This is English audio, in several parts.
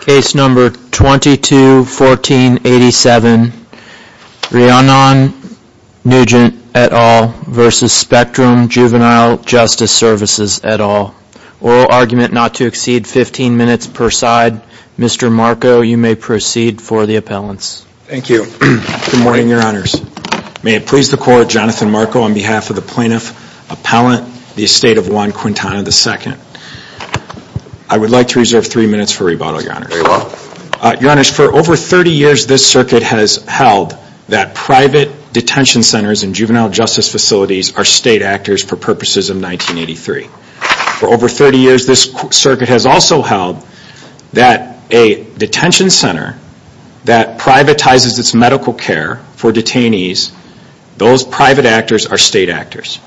Case number 221487, Rhiannon Nugent et al. versus Spectrum Juvenile Justice Services et al. Oral argument not to exceed 15 minutes per side. Mr. Marco, you may proceed for the appellants. Thank you. Good morning, your honors. May it please the court, Jonathan Marco on behalf of the plaintiff, appellant, the estate of Juan Quintana II. I would like to reserve three minutes for rebuttal, your honors. Your honors, for over 30 years this circuit has held that private detention centers and juvenile justice facilities are state actors for purposes of 1983. For over 30 years this circuit has also held that a detention center that privatizes its medical care for detainees, those private actors are state actors.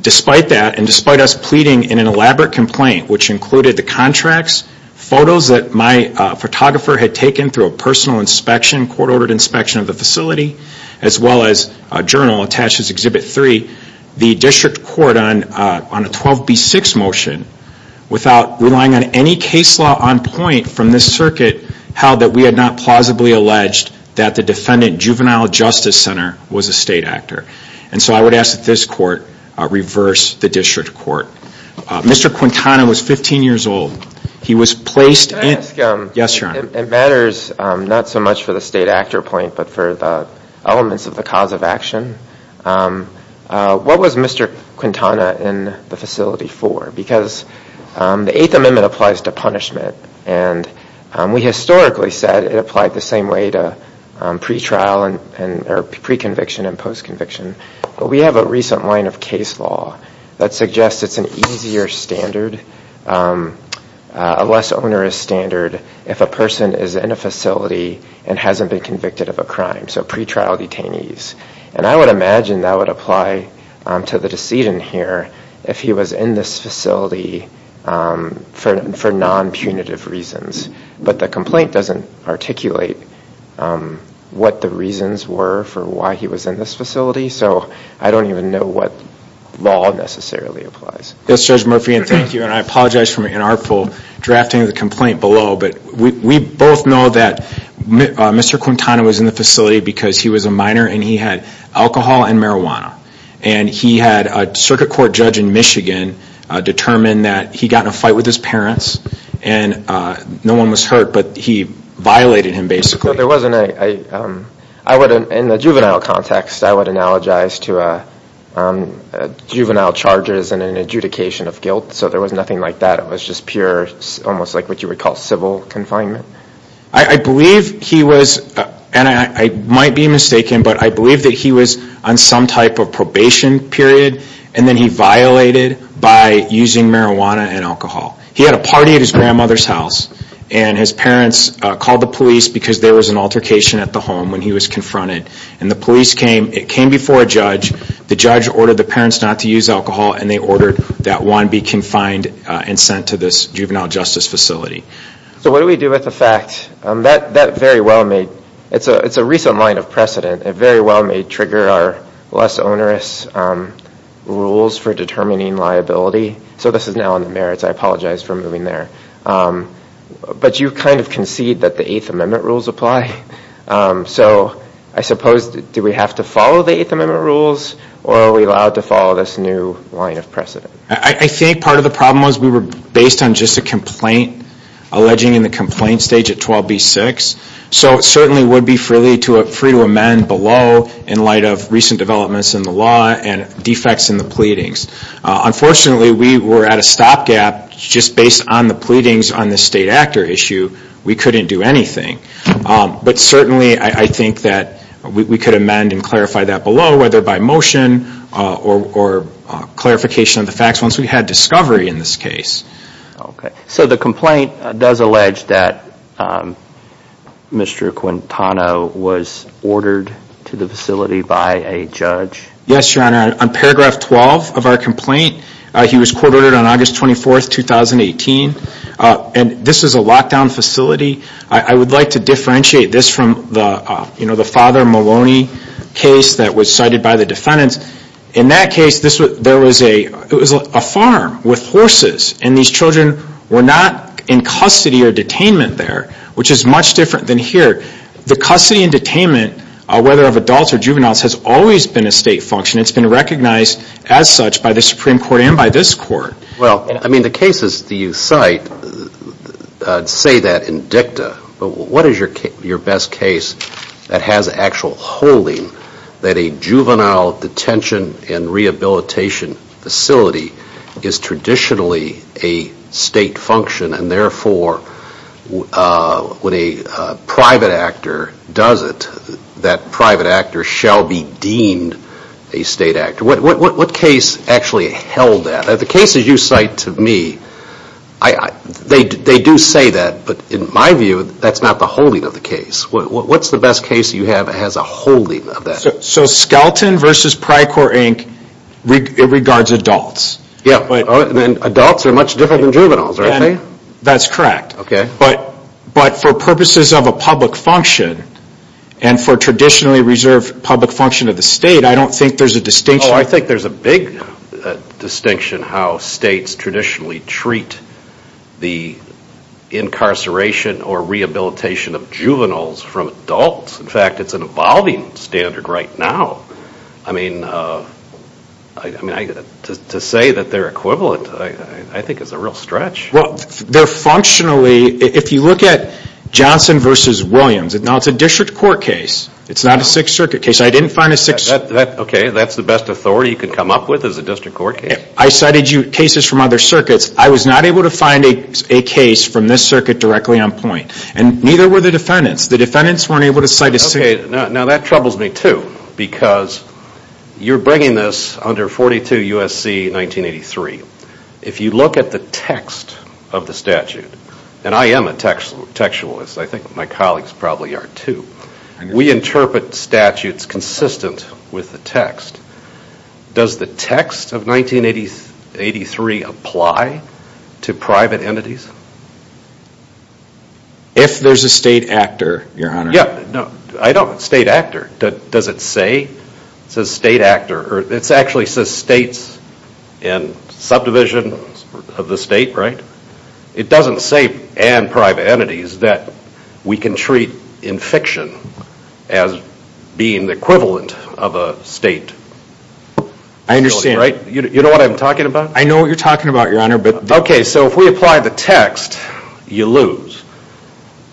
Despite that, and despite us pleading in an elaborate complaint which included the contracts, photos that my photographer had taken through a personal inspection, court-ordered inspection of the facility, as well as a journal attached to Exhibit 3, the district court on a 12B6 motion, without relying on any case law on point from this circuit, held that we had not plausibly alleged that the defendant, juvenile justice center, was a state actor. And so I would ask that this court reverse the district court. Mr. Quintana was 15 years old. He was placed in... Can I ask, it matters not so much for the state actor point, but for the elements of the cause of action. What was Mr. Quintana in the facility for? Because the Eighth Amendment applies to punishment. And we historically said it applied the same way to pre-conviction and post-conviction. But we have a recent line of case law that suggests it's an easier standard, a less onerous standard, if a person is in a facility and hasn't been convicted of a crime. So pre-trial detainees. And I would imagine that would apply to the decedent here if he was in this facility for non-punitive reasons. But the complaint doesn't articulate what the reasons were for why he was in this facility. So I don't even know what law necessarily applies. Yes, Judge Murphy, and thank you. And I apologize for my inartful drafting of the complaint below. But we both know that Mr. Quintana was in the facility because he was a minor and he had alcohol and marijuana. And he had a circuit court judge in Michigan determine that he got in a fight with his parents. And no one was hurt, but he violated him, basically. There wasn't a... In the juvenile context, I would analogize to juvenile charges and an adjudication of guilt. So there was nothing like that. It was just pure, almost like what you would call civil confinement. I believe he was, and I might be mistaken, but I believe that he was on some type of probation period. And then he violated by using marijuana and alcohol. He had a party at his grandmother's house and his parents called the police because there was an altercation at the home when he was confronted. And the police came. It came before a judge. The judge ordered the parents not to use alcohol and they ordered that one be confined and sent to this juvenile justice facility. So what do we do with the fact? That very well may... It's a recent line of precedent. It very well may trigger our less onerous rules for determining liability. So this is now in the merits. I apologize for moving there. But you kind of concede that the Eighth Amendment rules apply. So I suppose, do we have to follow the Eighth Amendment rules or are we allowed to follow this new line of precedent? I think part of the problem was we were based on just a complaint alleging in the complaint stage at 12B6. So it certainly would be free to amend below in light of recent developments in the law and defects in the pleadings. Unfortunately, we were at a stopgap just based on the pleadings on the state actor issue. We couldn't do anything. But certainly, I think that we could amend and clarify that below, whether by motion or clarification of the facts once we had discovery in this case. Okay. So the complaint does allege that Mr. Quintana was ordered to the facility by a judge? Yes, Your Honor. On paragraph 12 of our complaint, he was court ordered on August 24th, 2018. And this is a lockdown facility. I would like to differentiate this from the Father Maloney case that was cited by the defendants. In that case, it was a farm with horses and these children were not in custody or detainment there, which is much different than here. The custody and detainment, whether of adults or juveniles, has always been a state function. It's been recognized as such by the Supreme Court and by this Court. Well, I mean, the cases that you cite say that in dicta. But what is your best case that has actual holding that a juvenile detention and rehabilitation facility is traditionally a state function and therefore, when a private actor does it, that private actor shall be deemed a state actor? What case actually held that? The cases you cite to me, they do say that. But in my view, that's not the holding of the case. What's the best case you have that has a holding of that? So Skelton v. Pryor, Inc., it regards adults. Yeah. And adults are much different than juveniles, aren't they? That's correct. But for purposes of a public function and for traditionally reserved public function of the state, I don't think there's a distinction. Oh, I think there's a big distinction how states traditionally treat the incarceration or rehabilitation of juveniles from adults. In fact, it's an evolving standard right now. I mean, to say that they're equivalent, I think it's a real stretch. Well, they're functionally, if you look at Johnson v. Williams, now it's a district court case. It's not a Sixth Circuit case. I didn't find a Sixth Circuit case. Okay, that's the best authority you could come up with is a district court case? I cited you cases from other circuits. I was not able to find a case from this circuit directly on point. And neither were the defendants. The defendants weren't able to cite a Sixth Circuit case. Okay, now that troubles me, too, because you're bringing this under 42 U.S.C. 1983. If you look at the text of the statute, and I am a textualist. I think my colleagues probably are, too. We interpret statutes consistent with the text. Does the text of 1983 apply to private entities? If there's a state actor, Your Honor. Yeah, I don't, state actor. Does it say? It says state actor, or it actually says states and subdivisions of the state, right? It doesn't say and private entities that we can treat in fiction as being the equivalent of a state. I understand. You know what I'm talking about? I know what you're talking about, Your Honor. Okay, so if we apply the text, you lose.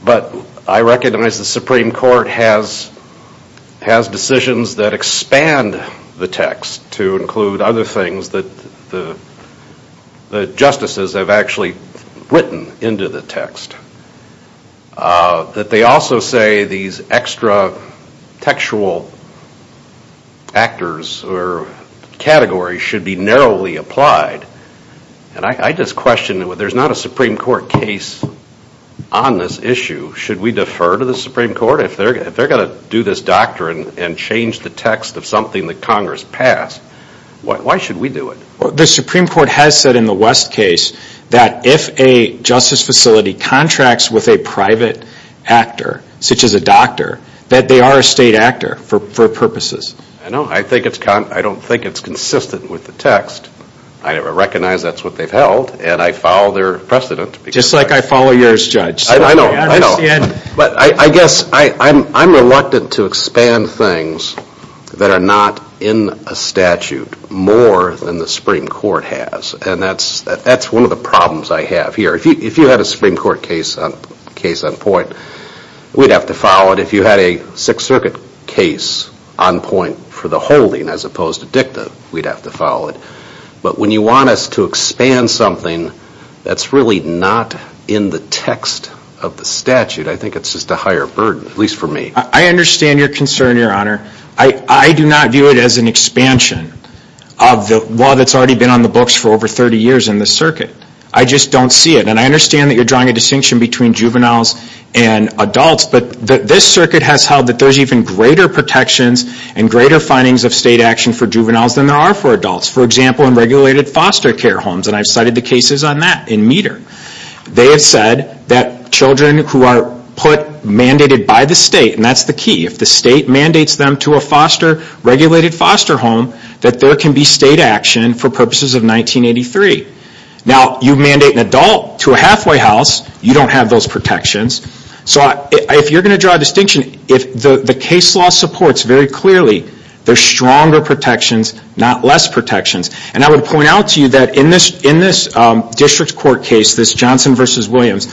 But I recognize the Supreme Court has decisions that expand the text to include other things that the justices have actually written into the text. That they also say these extra textual actors or categories should be narrowly applied. And I just question, there's not a Supreme Court case on this issue. Should we defer to the Supreme Court? If they're going to do this doctrine and change the text of something that Congress passed, why should we do it? The Supreme Court has said in the West case that if a justice facility contracts with a private actor, such as a doctor, that they are a state actor for purposes. I know. I don't think it's consistent with the text. I recognize that's what they've held, and I follow their precedent. Just like I follow yours, Judge. I know, I know. But I guess I'm reluctant to expand things that are not in a statute more than the Supreme Court has. And that's one of the problems I have here. If you had a Supreme Court case on point, we'd have to follow it. If you had a Sixth Circuit case on point for the holding as opposed to dicta, we'd have to follow it. But when you want us to expand something that's really not in the text of the statute, I think it's just a higher burden, at least for me. I understand your concern, Your Honor. I do not view it as an expansion of the law that's already been on the books for over 30 years in this circuit. I just don't see it. And I understand that you're drawing a distinction between juveniles and adults, but this circuit has held that there's even greater protections and greater findings of state action for juveniles than there are for adults. For example, in regulated foster care homes. And I've cited the cases on that in METER. They have said that children who are mandated by the state, and that's the key, if the state mandates them to a regulated foster home, that there can be state action for purposes of 1983. Now, you mandate an adult to a halfway house, you don't have those protections. So if you're going to draw a distinction, if the case law supports very clearly there's stronger protections, not less protections. And I would point out to you that in this district court case, this Johnson v. Williams,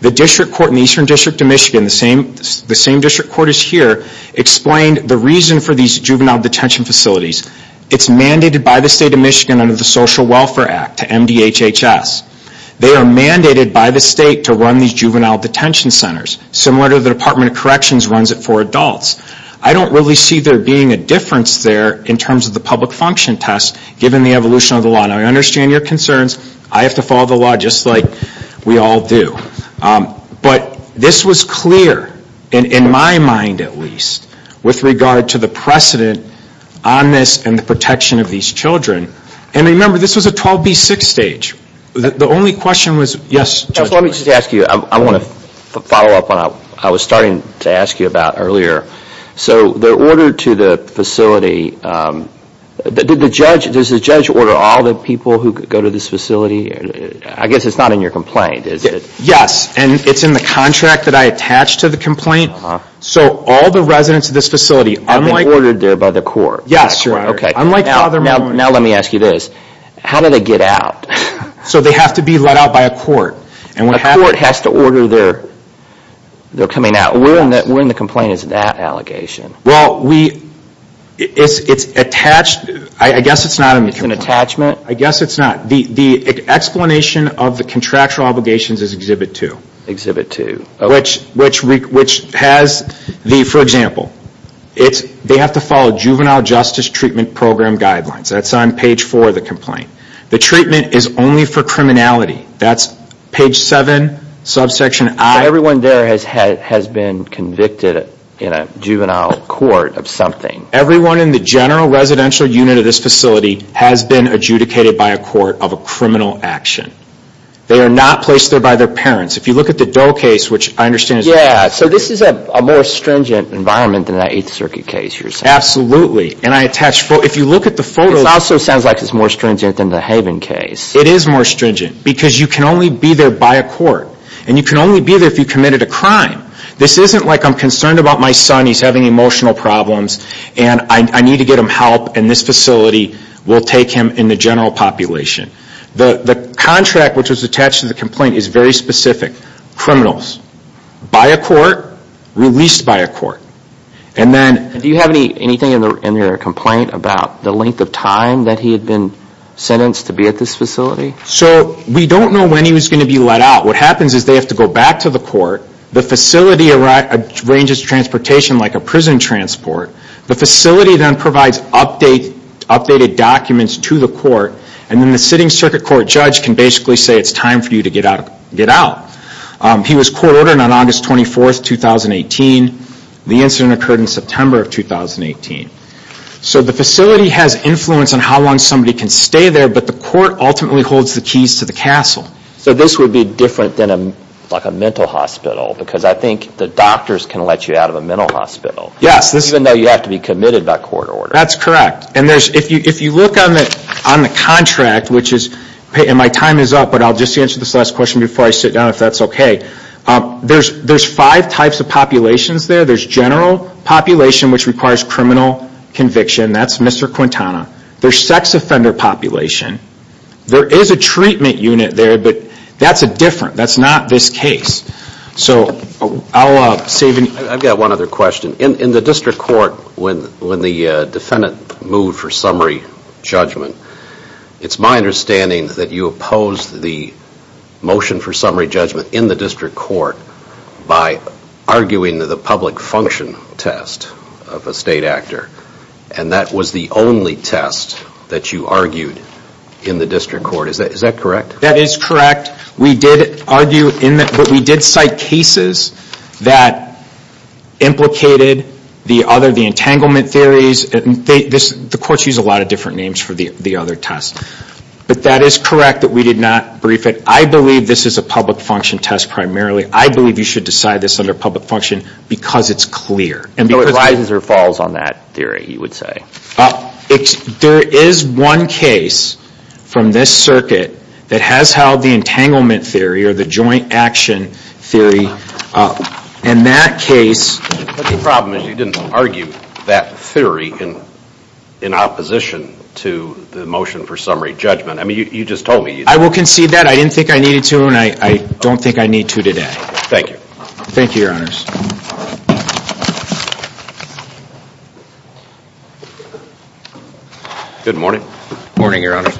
the district court in the Eastern District of Michigan, the same district court as here, explained the reason for these juvenile detention facilities. It's mandated by the state of Michigan under the Social Welfare Act to MDHHS. They are mandated by the state to run these juvenile detention centers, similar to the Department of Corrections runs it for adults. I don't really see there being a difference there in terms of the public function test, given the evolution of the law. Now, I understand your concerns. I have to follow the law just like we all do. But this was clear, in my mind at least, with regard to the precedent on this and the protection of these children. And remember, this was a 12B6 stage. The only question was, yes. Let me just ask you, I want to follow up on what I was starting to ask you about earlier. So, the order to the facility, does the judge order all the people who go to this facility? I guess it's not in your complaint, is it? Yes, and it's in the contract that I attached to the complaint. So, all the residents of this facility are being ordered there by the court. Yes, sir. Now, let me ask you this. How do they get out? So, they have to be let out by a court. A court has to order their coming out. Where in the complaint is that allegation? Well, it's attached. I guess it's not in the complaint. It's an attachment? I guess it's not. The explanation of the contractual obligations is Exhibit 2. Exhibit 2. For example, they have to follow Juvenile Justice Treatment Program guidelines. That's on page 4 of the complaint. The treatment is only for criminality. That's page 7, subsection I. So, everyone there has been convicted in a juvenile court of something? Everyone in the general residential unit of this facility has been adjudicated by a court of a criminal action. They are not placed there by their parents. If you look at the Doe case, which I understand is... Yeah, so this is a more stringent environment than that Eighth Circuit case you're saying? Absolutely. And I attached... If you look at the photo... This also sounds like it's more stringent than the Haven case. It is more stringent because you can only be there by a court. And you can only be there if you committed a crime. This isn't like I'm concerned about my son, he's having emotional problems, and I need to get him help and this facility will take him in the general population. The contract which was attached to the complaint is very specific. By a court. Released by a court. Do you have anything in your complaint about the length of time that he had been sentenced to be at this facility? So, we don't know when he was going to be let out. What happens is they have to go back to the court. The facility arranges transportation like a prison transport. The facility then provides updated documents to the court. And then the sitting circuit court judge can basically say it's time for you to get out. He was court ordered on August 24th, 2018. The incident occurred in September of 2018. So, the facility has influence on how long somebody can stay there, but the court ultimately holds the keys to the castle. So, this would be different than a mental hospital because I think the doctors can let you out of a mental hospital. Yes. Even though you have to be committed by court order. That's correct. And if you look on the contract, which is... And my time is up, but I'll just answer this last question before I sit down if that's okay. There's five types of populations there. There's general population, which requires criminal conviction. That's Mr. Quintana. There's sex offender population. There is a treatment unit there, but that's a different... That's not this case. So, I'll save... I've got one other question. In the district court, when the defendant moved for summary judgment, it's my understanding that you opposed the motion for summary judgment in the district court by arguing that the public function test of a state actor. And that was the only test that you argued in the district court. Is that correct? That is correct. We did argue... We did cite cases that implicated the other, the entanglement theories. The courts use a lot of different names for the other tests. But that is correct that we did not brief it. I believe this is a public function test primarily. I believe you should decide this under public function because it's clear. So, it rises or falls on that theory, you would say? There is one case from this circuit that has held the entanglement theory or the joint action theory. And that case... But the problem is you didn't argue that theory in opposition to the motion for summary judgment. I mean, you just told me you did. I will concede that. I didn't think I needed to and I don't think I need to today. Thank you. Thank you, Your Honors. Good morning. Morning, Your Honors.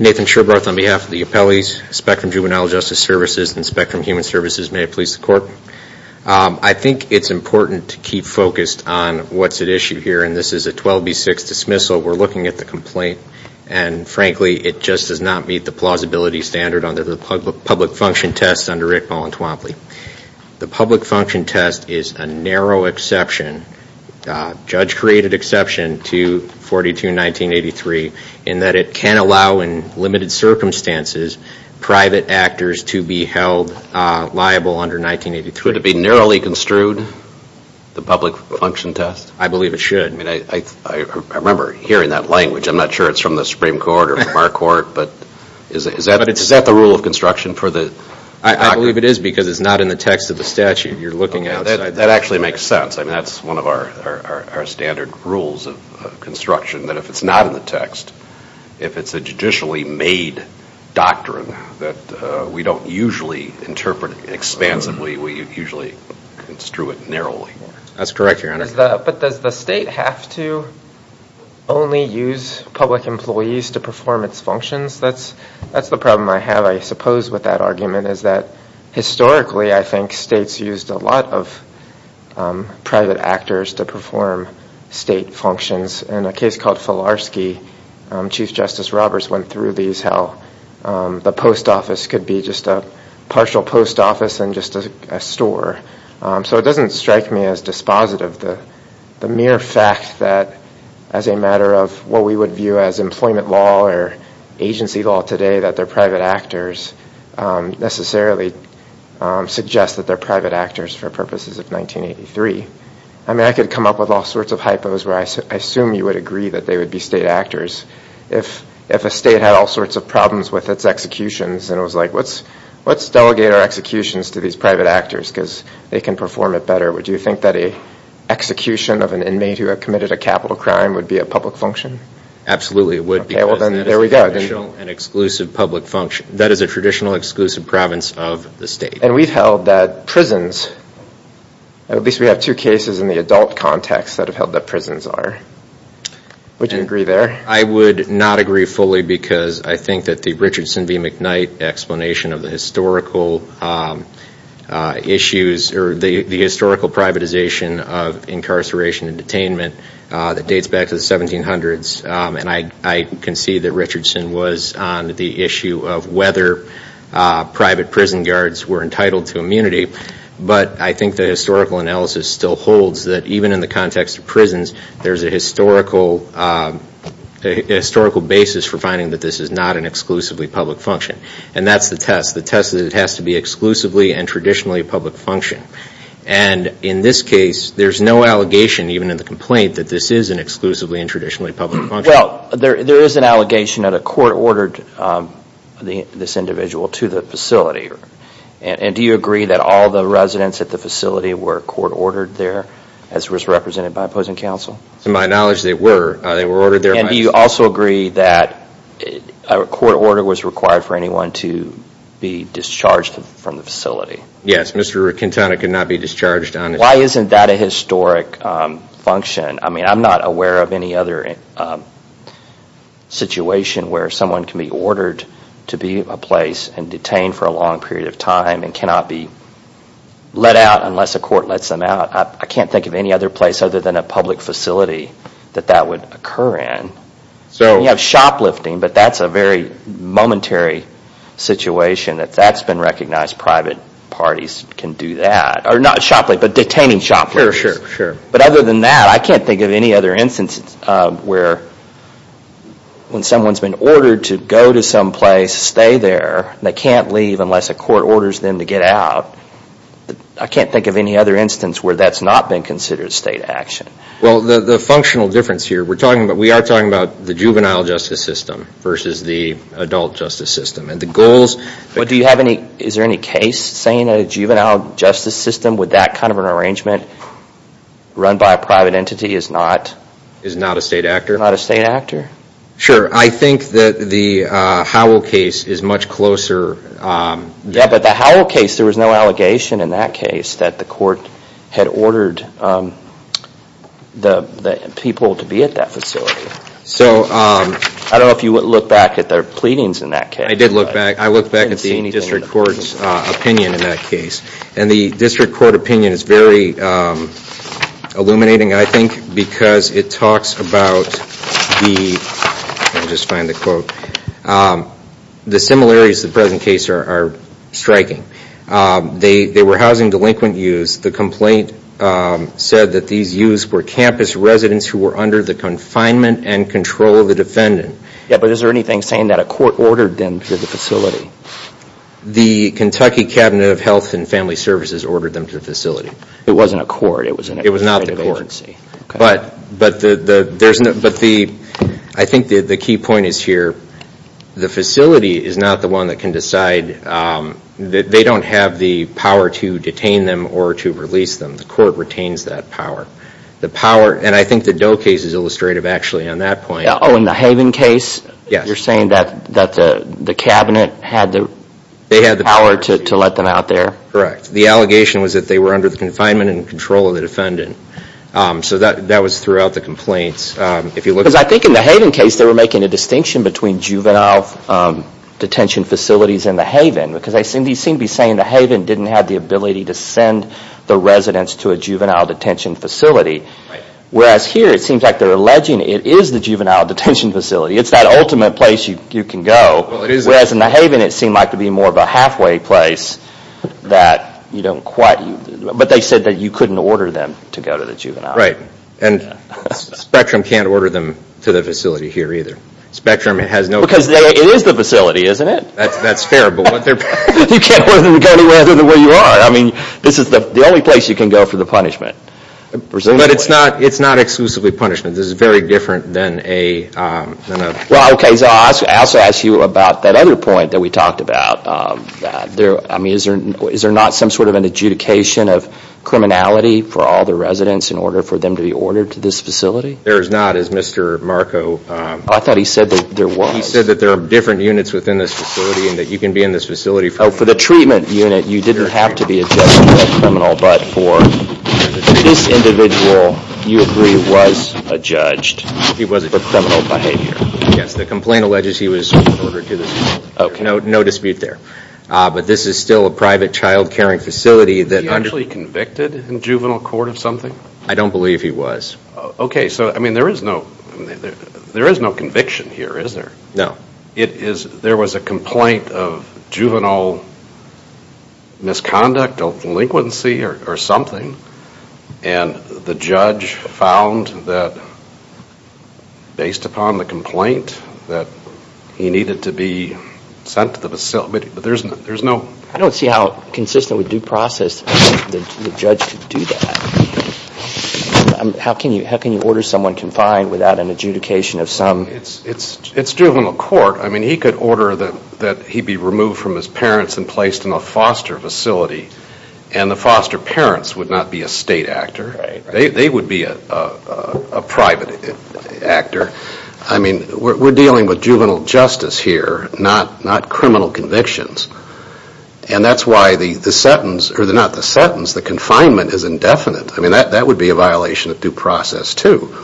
Nathan Sherbroth on behalf of the appellees, Spectrum Juvenile Justice Services and Spectrum Human Services. May it please the court. I think it's important to keep focused on what's at issue here. And this is a 12B6 dismissal. We're looking at the complaint. And frankly, it just does not meet the plausibility standard under the public function test under Rickball and Twompley. The public function test is a narrow exception. Judge created exception to 42-1983 in that it can allow in limited circumstances private actors to be held liable under 1983. Could it be narrowly construed, the public function test? I believe it should. I mean, I remember hearing that language. I'm not sure it's from the Supreme Court or from our court, but is that the rule of construction for the... I believe it is because it's not in the text of the statute. You're looking at... That actually makes sense. I mean, that's one of our standard rules of construction, that if it's not in the text, if it's a judicially made doctrine that we don't usually interpret expansively, we usually construe it narrowly. That's correct, Your Honor. But does the state have to only use public employees to perform its functions? That's the problem I have, I suppose, with that argument, is that historically I think states used a lot of private actors to perform state functions. In a case called Filarski, Chief Justice Roberts went through these, how the post office could be just a partial post office and just a store. So it doesn't strike me as dispositive. The mere fact that as a matter of what we would view as employment law or agency law today, that they're private actors necessarily suggests that they're private actors for purposes of 1983. I mean, I could come up with all sorts of hypos where I assume you would agree that they would be state actors. If a state had all sorts of problems with its executions and it was like, let's delegate our executions to these private actors because they can perform it better, would you think that an execution of an inmate who had committed a capital crime would be a public function? Absolutely, it would. Okay, well then, there we go. That is a traditional exclusive province of the state. And we've held that prisons, at least we have two cases in the adult context that have held that prisons are. Would you agree there? I would not agree fully because I think that the Richardson v. McKnight explanation of the historical issues, or the historical privatization of incarceration and detainment that dates back to the 1700s, and I can see that Richardson was on the issue of whether private prison guards were entitled to immunity. But I think the historical analysis still holds that even in the context of prisons, there's a historical basis for finding that this is not an exclusively public function. And that's the test. The test is that it has to be exclusively and traditionally a public function. And in this case, there's no allegation, even in the complaint, that this is an exclusively and traditionally public function. Well, there is an allegation that a court ordered this individual to the facility. And do you agree that all the residents at the facility were court ordered there, as was represented by opposing counsel? To my knowledge, they were. They were ordered there by counsel. And do you also agree that a court order was required for anyone to be discharged from the facility? Yes. Mr. Quintana could not be discharged on his own. Why isn't that a historic function? I mean, I'm not aware of any other situation where someone can be ordered to be in a place and detained for a long period of time and cannot be let out unless a court lets them out. I can't think of any other place other than a public facility that that would occur in. You have shoplifting, but that's a very momentary situation that that's been recognized private parties can do that. Or not shoplifting, but detaining shoplifters. But other than that, I can't think of any other instance where when someone's been ordered to go to some place, stay there, and they can't leave unless a court orders them to get out. I can't think of any other instance where that's not been considered state action. Well, the functional difference here, we are talking about the juvenile justice system versus the adult justice system. Is there any case saying a juvenile justice system with that kind of an arrangement run by a private entity is not? Is not a state actor. Not a state actor? Sure. I think that the Howell case is much closer. Yeah, but the Howell case, there was no allegation in that case that the court had ordered the people to be at that facility. So. I don't know if you would look back at their pleadings in that case. I did look back. I looked back at the district court's opinion in that case. And the district court opinion is very illuminating, I think, because it talks about the, let me just find the quote. The similarities to the present case are striking. They were housing delinquent youths. The complaint said that these youths were campus residents who were under the confinement and control of the defendant. Yeah, but is there anything saying that a court ordered them to the facility? The Kentucky Cabinet of Health and Family Services ordered them to the facility. It wasn't a court. It was not the court. But I think the key point is here. The facility is not the one that can decide. They don't have the power to detain them or to release them. The court retains that power. The power, and I think the Doe case is illustrative, actually, on that point. Oh, in the Haven case? Yes. You're saying that the cabinet had the power to let them out there? Correct. The allegation was that they were under the confinement and control of the defendant. So that was throughout the complaints. Because I think in the Haven case they were making a distinction between juvenile detention facilities and the Haven. Because they seem to be saying the Haven didn't have the ability to send the residents to a juvenile detention facility. Whereas here it seems like they're alleging it is the juvenile detention facility. It's that ultimate place you can go. Whereas in the Haven it seemed like to be more of a halfway place. But they said that you couldn't order them to go to the juvenile. Right. And Spectrum can't order them to the facility here either. Because it is the facility, isn't it? That's fair. You can't order them to go anywhere other than where you are. This is the only place you can go for the punishment. But it's not exclusively punishment. This is very different than a... I also asked you about that other point that we talked about. Is there not some sort of an adjudication of criminality for all the residents in order for them to be ordered to this facility? There is not as Mr. Marco... I thought he said that there was. He said that there are different units within this facility and that you can be in this facility... Oh, for the treatment unit you didn't have to be a judge to be a criminal. But for this individual you agree was a judge for criminal behavior. Yes, the complaint alleges he was ordered to this facility. No dispute there. But this is still a private child caring facility that... Was he actually convicted in juvenile court of something? I don't believe he was. Okay, so there is no conviction here, is there? No. There was a complaint of juvenile misconduct or delinquency or something. And the judge found that based upon the complaint that he needed to be sent to the facility. But there is no... I don't see how consistent with due process the judge could do that. How can you order someone confined without an adjudication of some... It's juvenile court. I mean he could order that he be removed from his parents and placed in a foster facility. And the foster parents would not be a state actor. They would be a private actor. I mean we're dealing with juvenile justice here, not criminal convictions. And that's why the sentence, or not the sentence, the confinement is indefinite. I mean that would be a violation of due process too.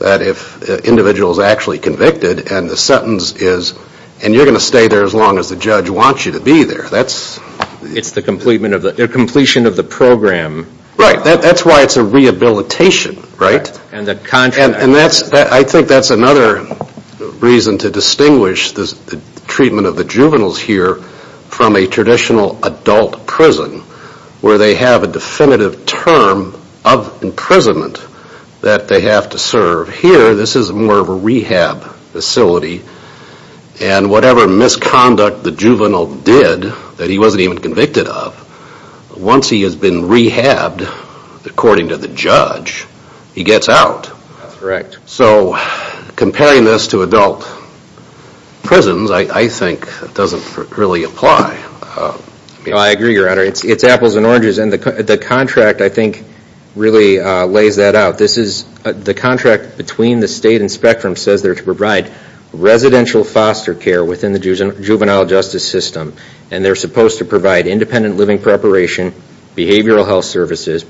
That if an individual is actually convicted and the sentence is... And you're going to stay there as long as the judge wants you to be there. It's the completion of the program. Right. That's why it's a rehabilitation. And the contract. And I think that's another reason to distinguish the treatment of the juveniles here from a traditional adult prison where they have a definitive term of imprisonment that they have to serve. Here this is more of a rehab facility. And whatever misconduct the juvenile did that he wasn't even convicted of, once he has been rehabbed according to the judge, he gets out. That's correct. So comparing this to adult prisons I think doesn't really apply. I agree, Your Honor. It's apples and oranges. And the contract I think really lays that out. The contract between the state and Spectrum says they're to provide residential foster care within the juvenile justice system. And they're supposed to provide independent living preparation, behavioral health services,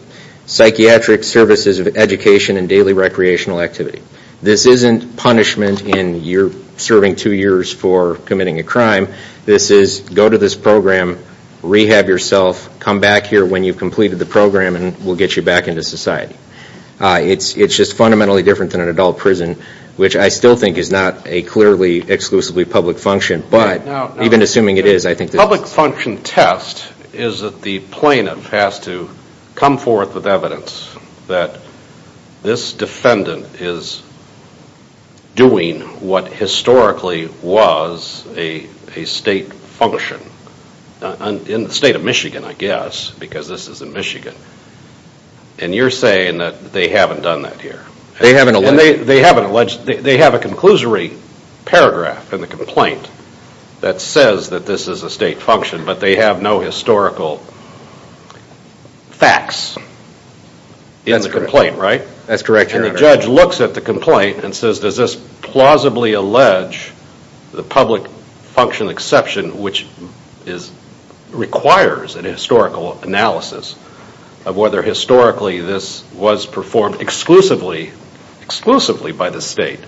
psychiatric services of education, and daily recreational activity. This isn't punishment in you're serving two years for committing a crime. This is go to this program, rehab yourself, come back here when you've completed the program, and we'll get you back into society. It's just fundamentally different than an adult prison, which I still think is not a clearly exclusively public function. But even assuming it is, I think that... The public function test is that the plaintiff has to come forth with evidence that this defendant is doing what historically was a state function. In the state of Michigan, I guess, because this is in Michigan. And you're saying that they haven't done that here. They haven't alleged. They have a conclusory paragraph in the complaint that says that this is a state function, but they have no historical facts in the complaint, right? That's correct, Your Honor. And the judge looks at the complaint and says, does this plausibly allege the public function exception, which requires a historical analysis of whether historically this was performed exclusively by the state.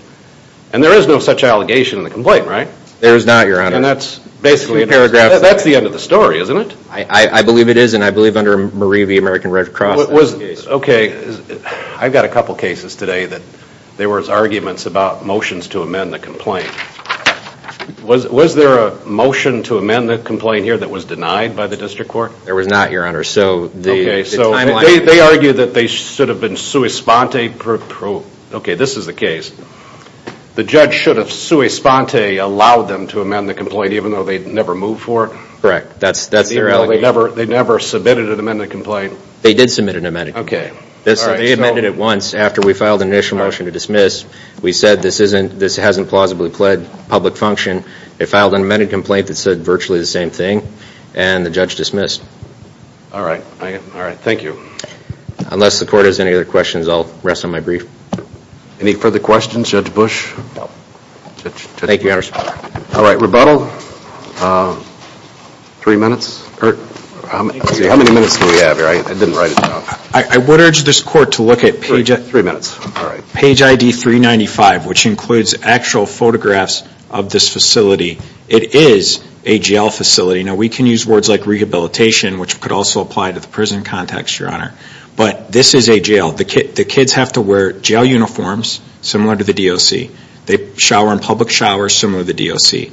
And there is no such allegation in the complaint, right? There is not, Your Honor. And that's basically a paragraph... That's the end of the story, isn't it? I believe it is, and I believe under Marie v. American Red Cross... I've got a couple cases today that there was arguments about motions to amend the complaint. Was there a motion to amend the complaint here that was denied by the district court? There was not, Your Honor. They argued that they should have been sui sponte. Okay, this is the case. The judge should have sui sponte allowed them to amend the complaint, even though they'd never moved for it? Correct. They never submitted an amended complaint? They did submit an amended complaint. Okay. They amended it once after we filed an initial motion to dismiss. We said this hasn't plausibly pled public function. They filed an amended complaint that said virtually the same thing, and the judge dismissed. All right. Thank you. Unless the court has any other questions, I'll rest on my brief. Any further questions, Judge Bush? No. Thank you, Your Honor. All right, rebuttal? Three minutes? How many minutes do we have here? I didn't write it down. I would urge this court to look at page ID 395, which includes actual photographs of this facility. It is a jail facility. Now, we can use words like rehabilitation, which could also apply to the prison context, Your Honor. But this is a jail. The kids have to wear jail uniforms, similar to the DOC. They shower in public showers, similar to the DOC.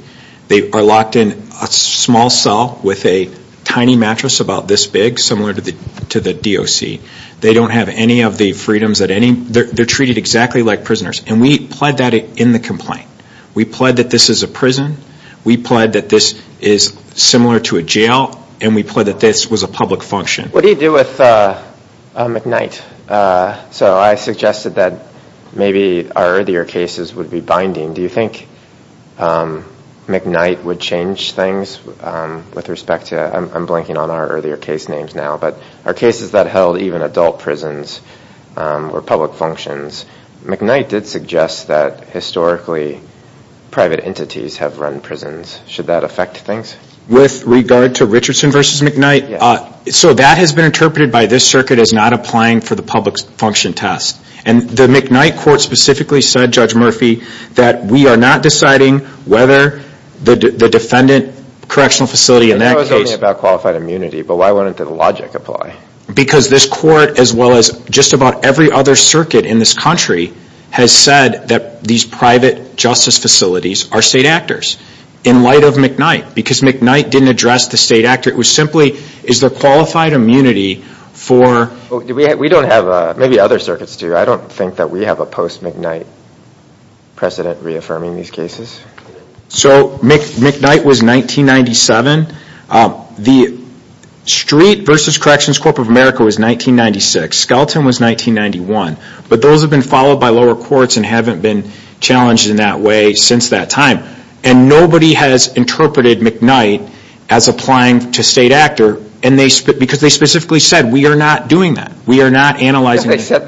They are locked in a small cell with a tiny mattress about this big, similar to the DOC. They don't have any of the freedoms that any ñ they're treated exactly like prisoners. And we pled that in the complaint. We pled that this is a prison. We pled that this is similar to a jail. And we pled that this was a public function. What do you do with McKnight? So I suggested that maybe our earlier cases would be binding. Do you think McKnight would change things with respect to ñ I'm blanking on our earlier case names now. But our cases that held even adult prisons were public functions. McKnight did suggest that historically private entities have run prisons. Should that affect things? With regard to Richardson v. McKnight, so that has been interpreted by this circuit as not applying for the public function test. And the McKnight court specifically said, Judge Murphy, that we are not deciding whether the defendant correctional facility in that case ñ It was only about qualified immunity. But why wouldn't the logic apply? Because this court, as well as just about every other circuit in this country, has said that these private justice facilities are state actors in light of McKnight. Because McKnight didn't address the state actor. It was simply, is there qualified immunity for ñ We don't have ñ maybe other circuits do. I don't think that we have a post-McKnight precedent reaffirming these cases. So McKnight was 1997. The Street v. Corrections Corp. of America was 1996. Skelton was 1991. But those have been followed by lower courts and haven't been challenged in that way since that time. And nobody has interpreted McKnight as applying to state actor. Because they specifically said, we are not doing that. We are not analyzing ñ Yeah, they said that.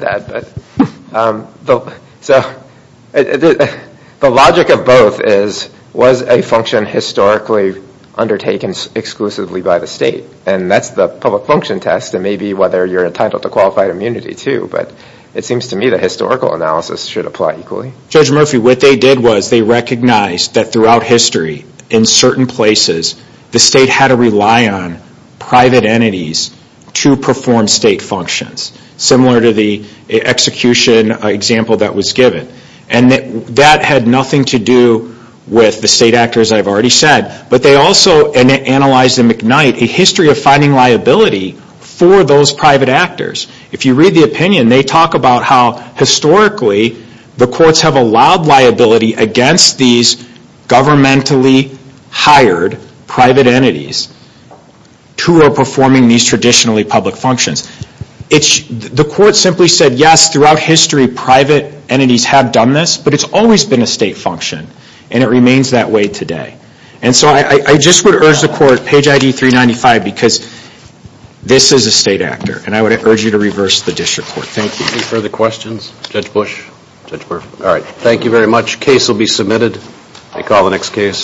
So the logic of both is, was a function historically undertaken exclusively by the state? And that's the public function test. And maybe whether you're entitled to qualified immunity, too. But it seems to me the historical analysis should apply equally. Judge Murphy, what they did was they recognized that throughout history, in certain places, the state had to rely on private entities to perform state functions. Similar to the execution example that was given. And that had nothing to do with the state actors I've already said. But they also analyzed in McKnight a history of finding liability for those private actors. If you read the opinion, they talk about how historically the courts have allowed liability against these governmentally hired private entities who are performing these traditionally public functions. The court simply said, yes, throughout history, private entities have done this. But it's always been a state function. And it remains that way today. And so I just would urge the court, page ID 395, because this is a state actor. And I would urge you to reverse the district court. Thank you. Any further questions? Judge Bush? All right. Thank you very much. Case will be submitted. I call the next case.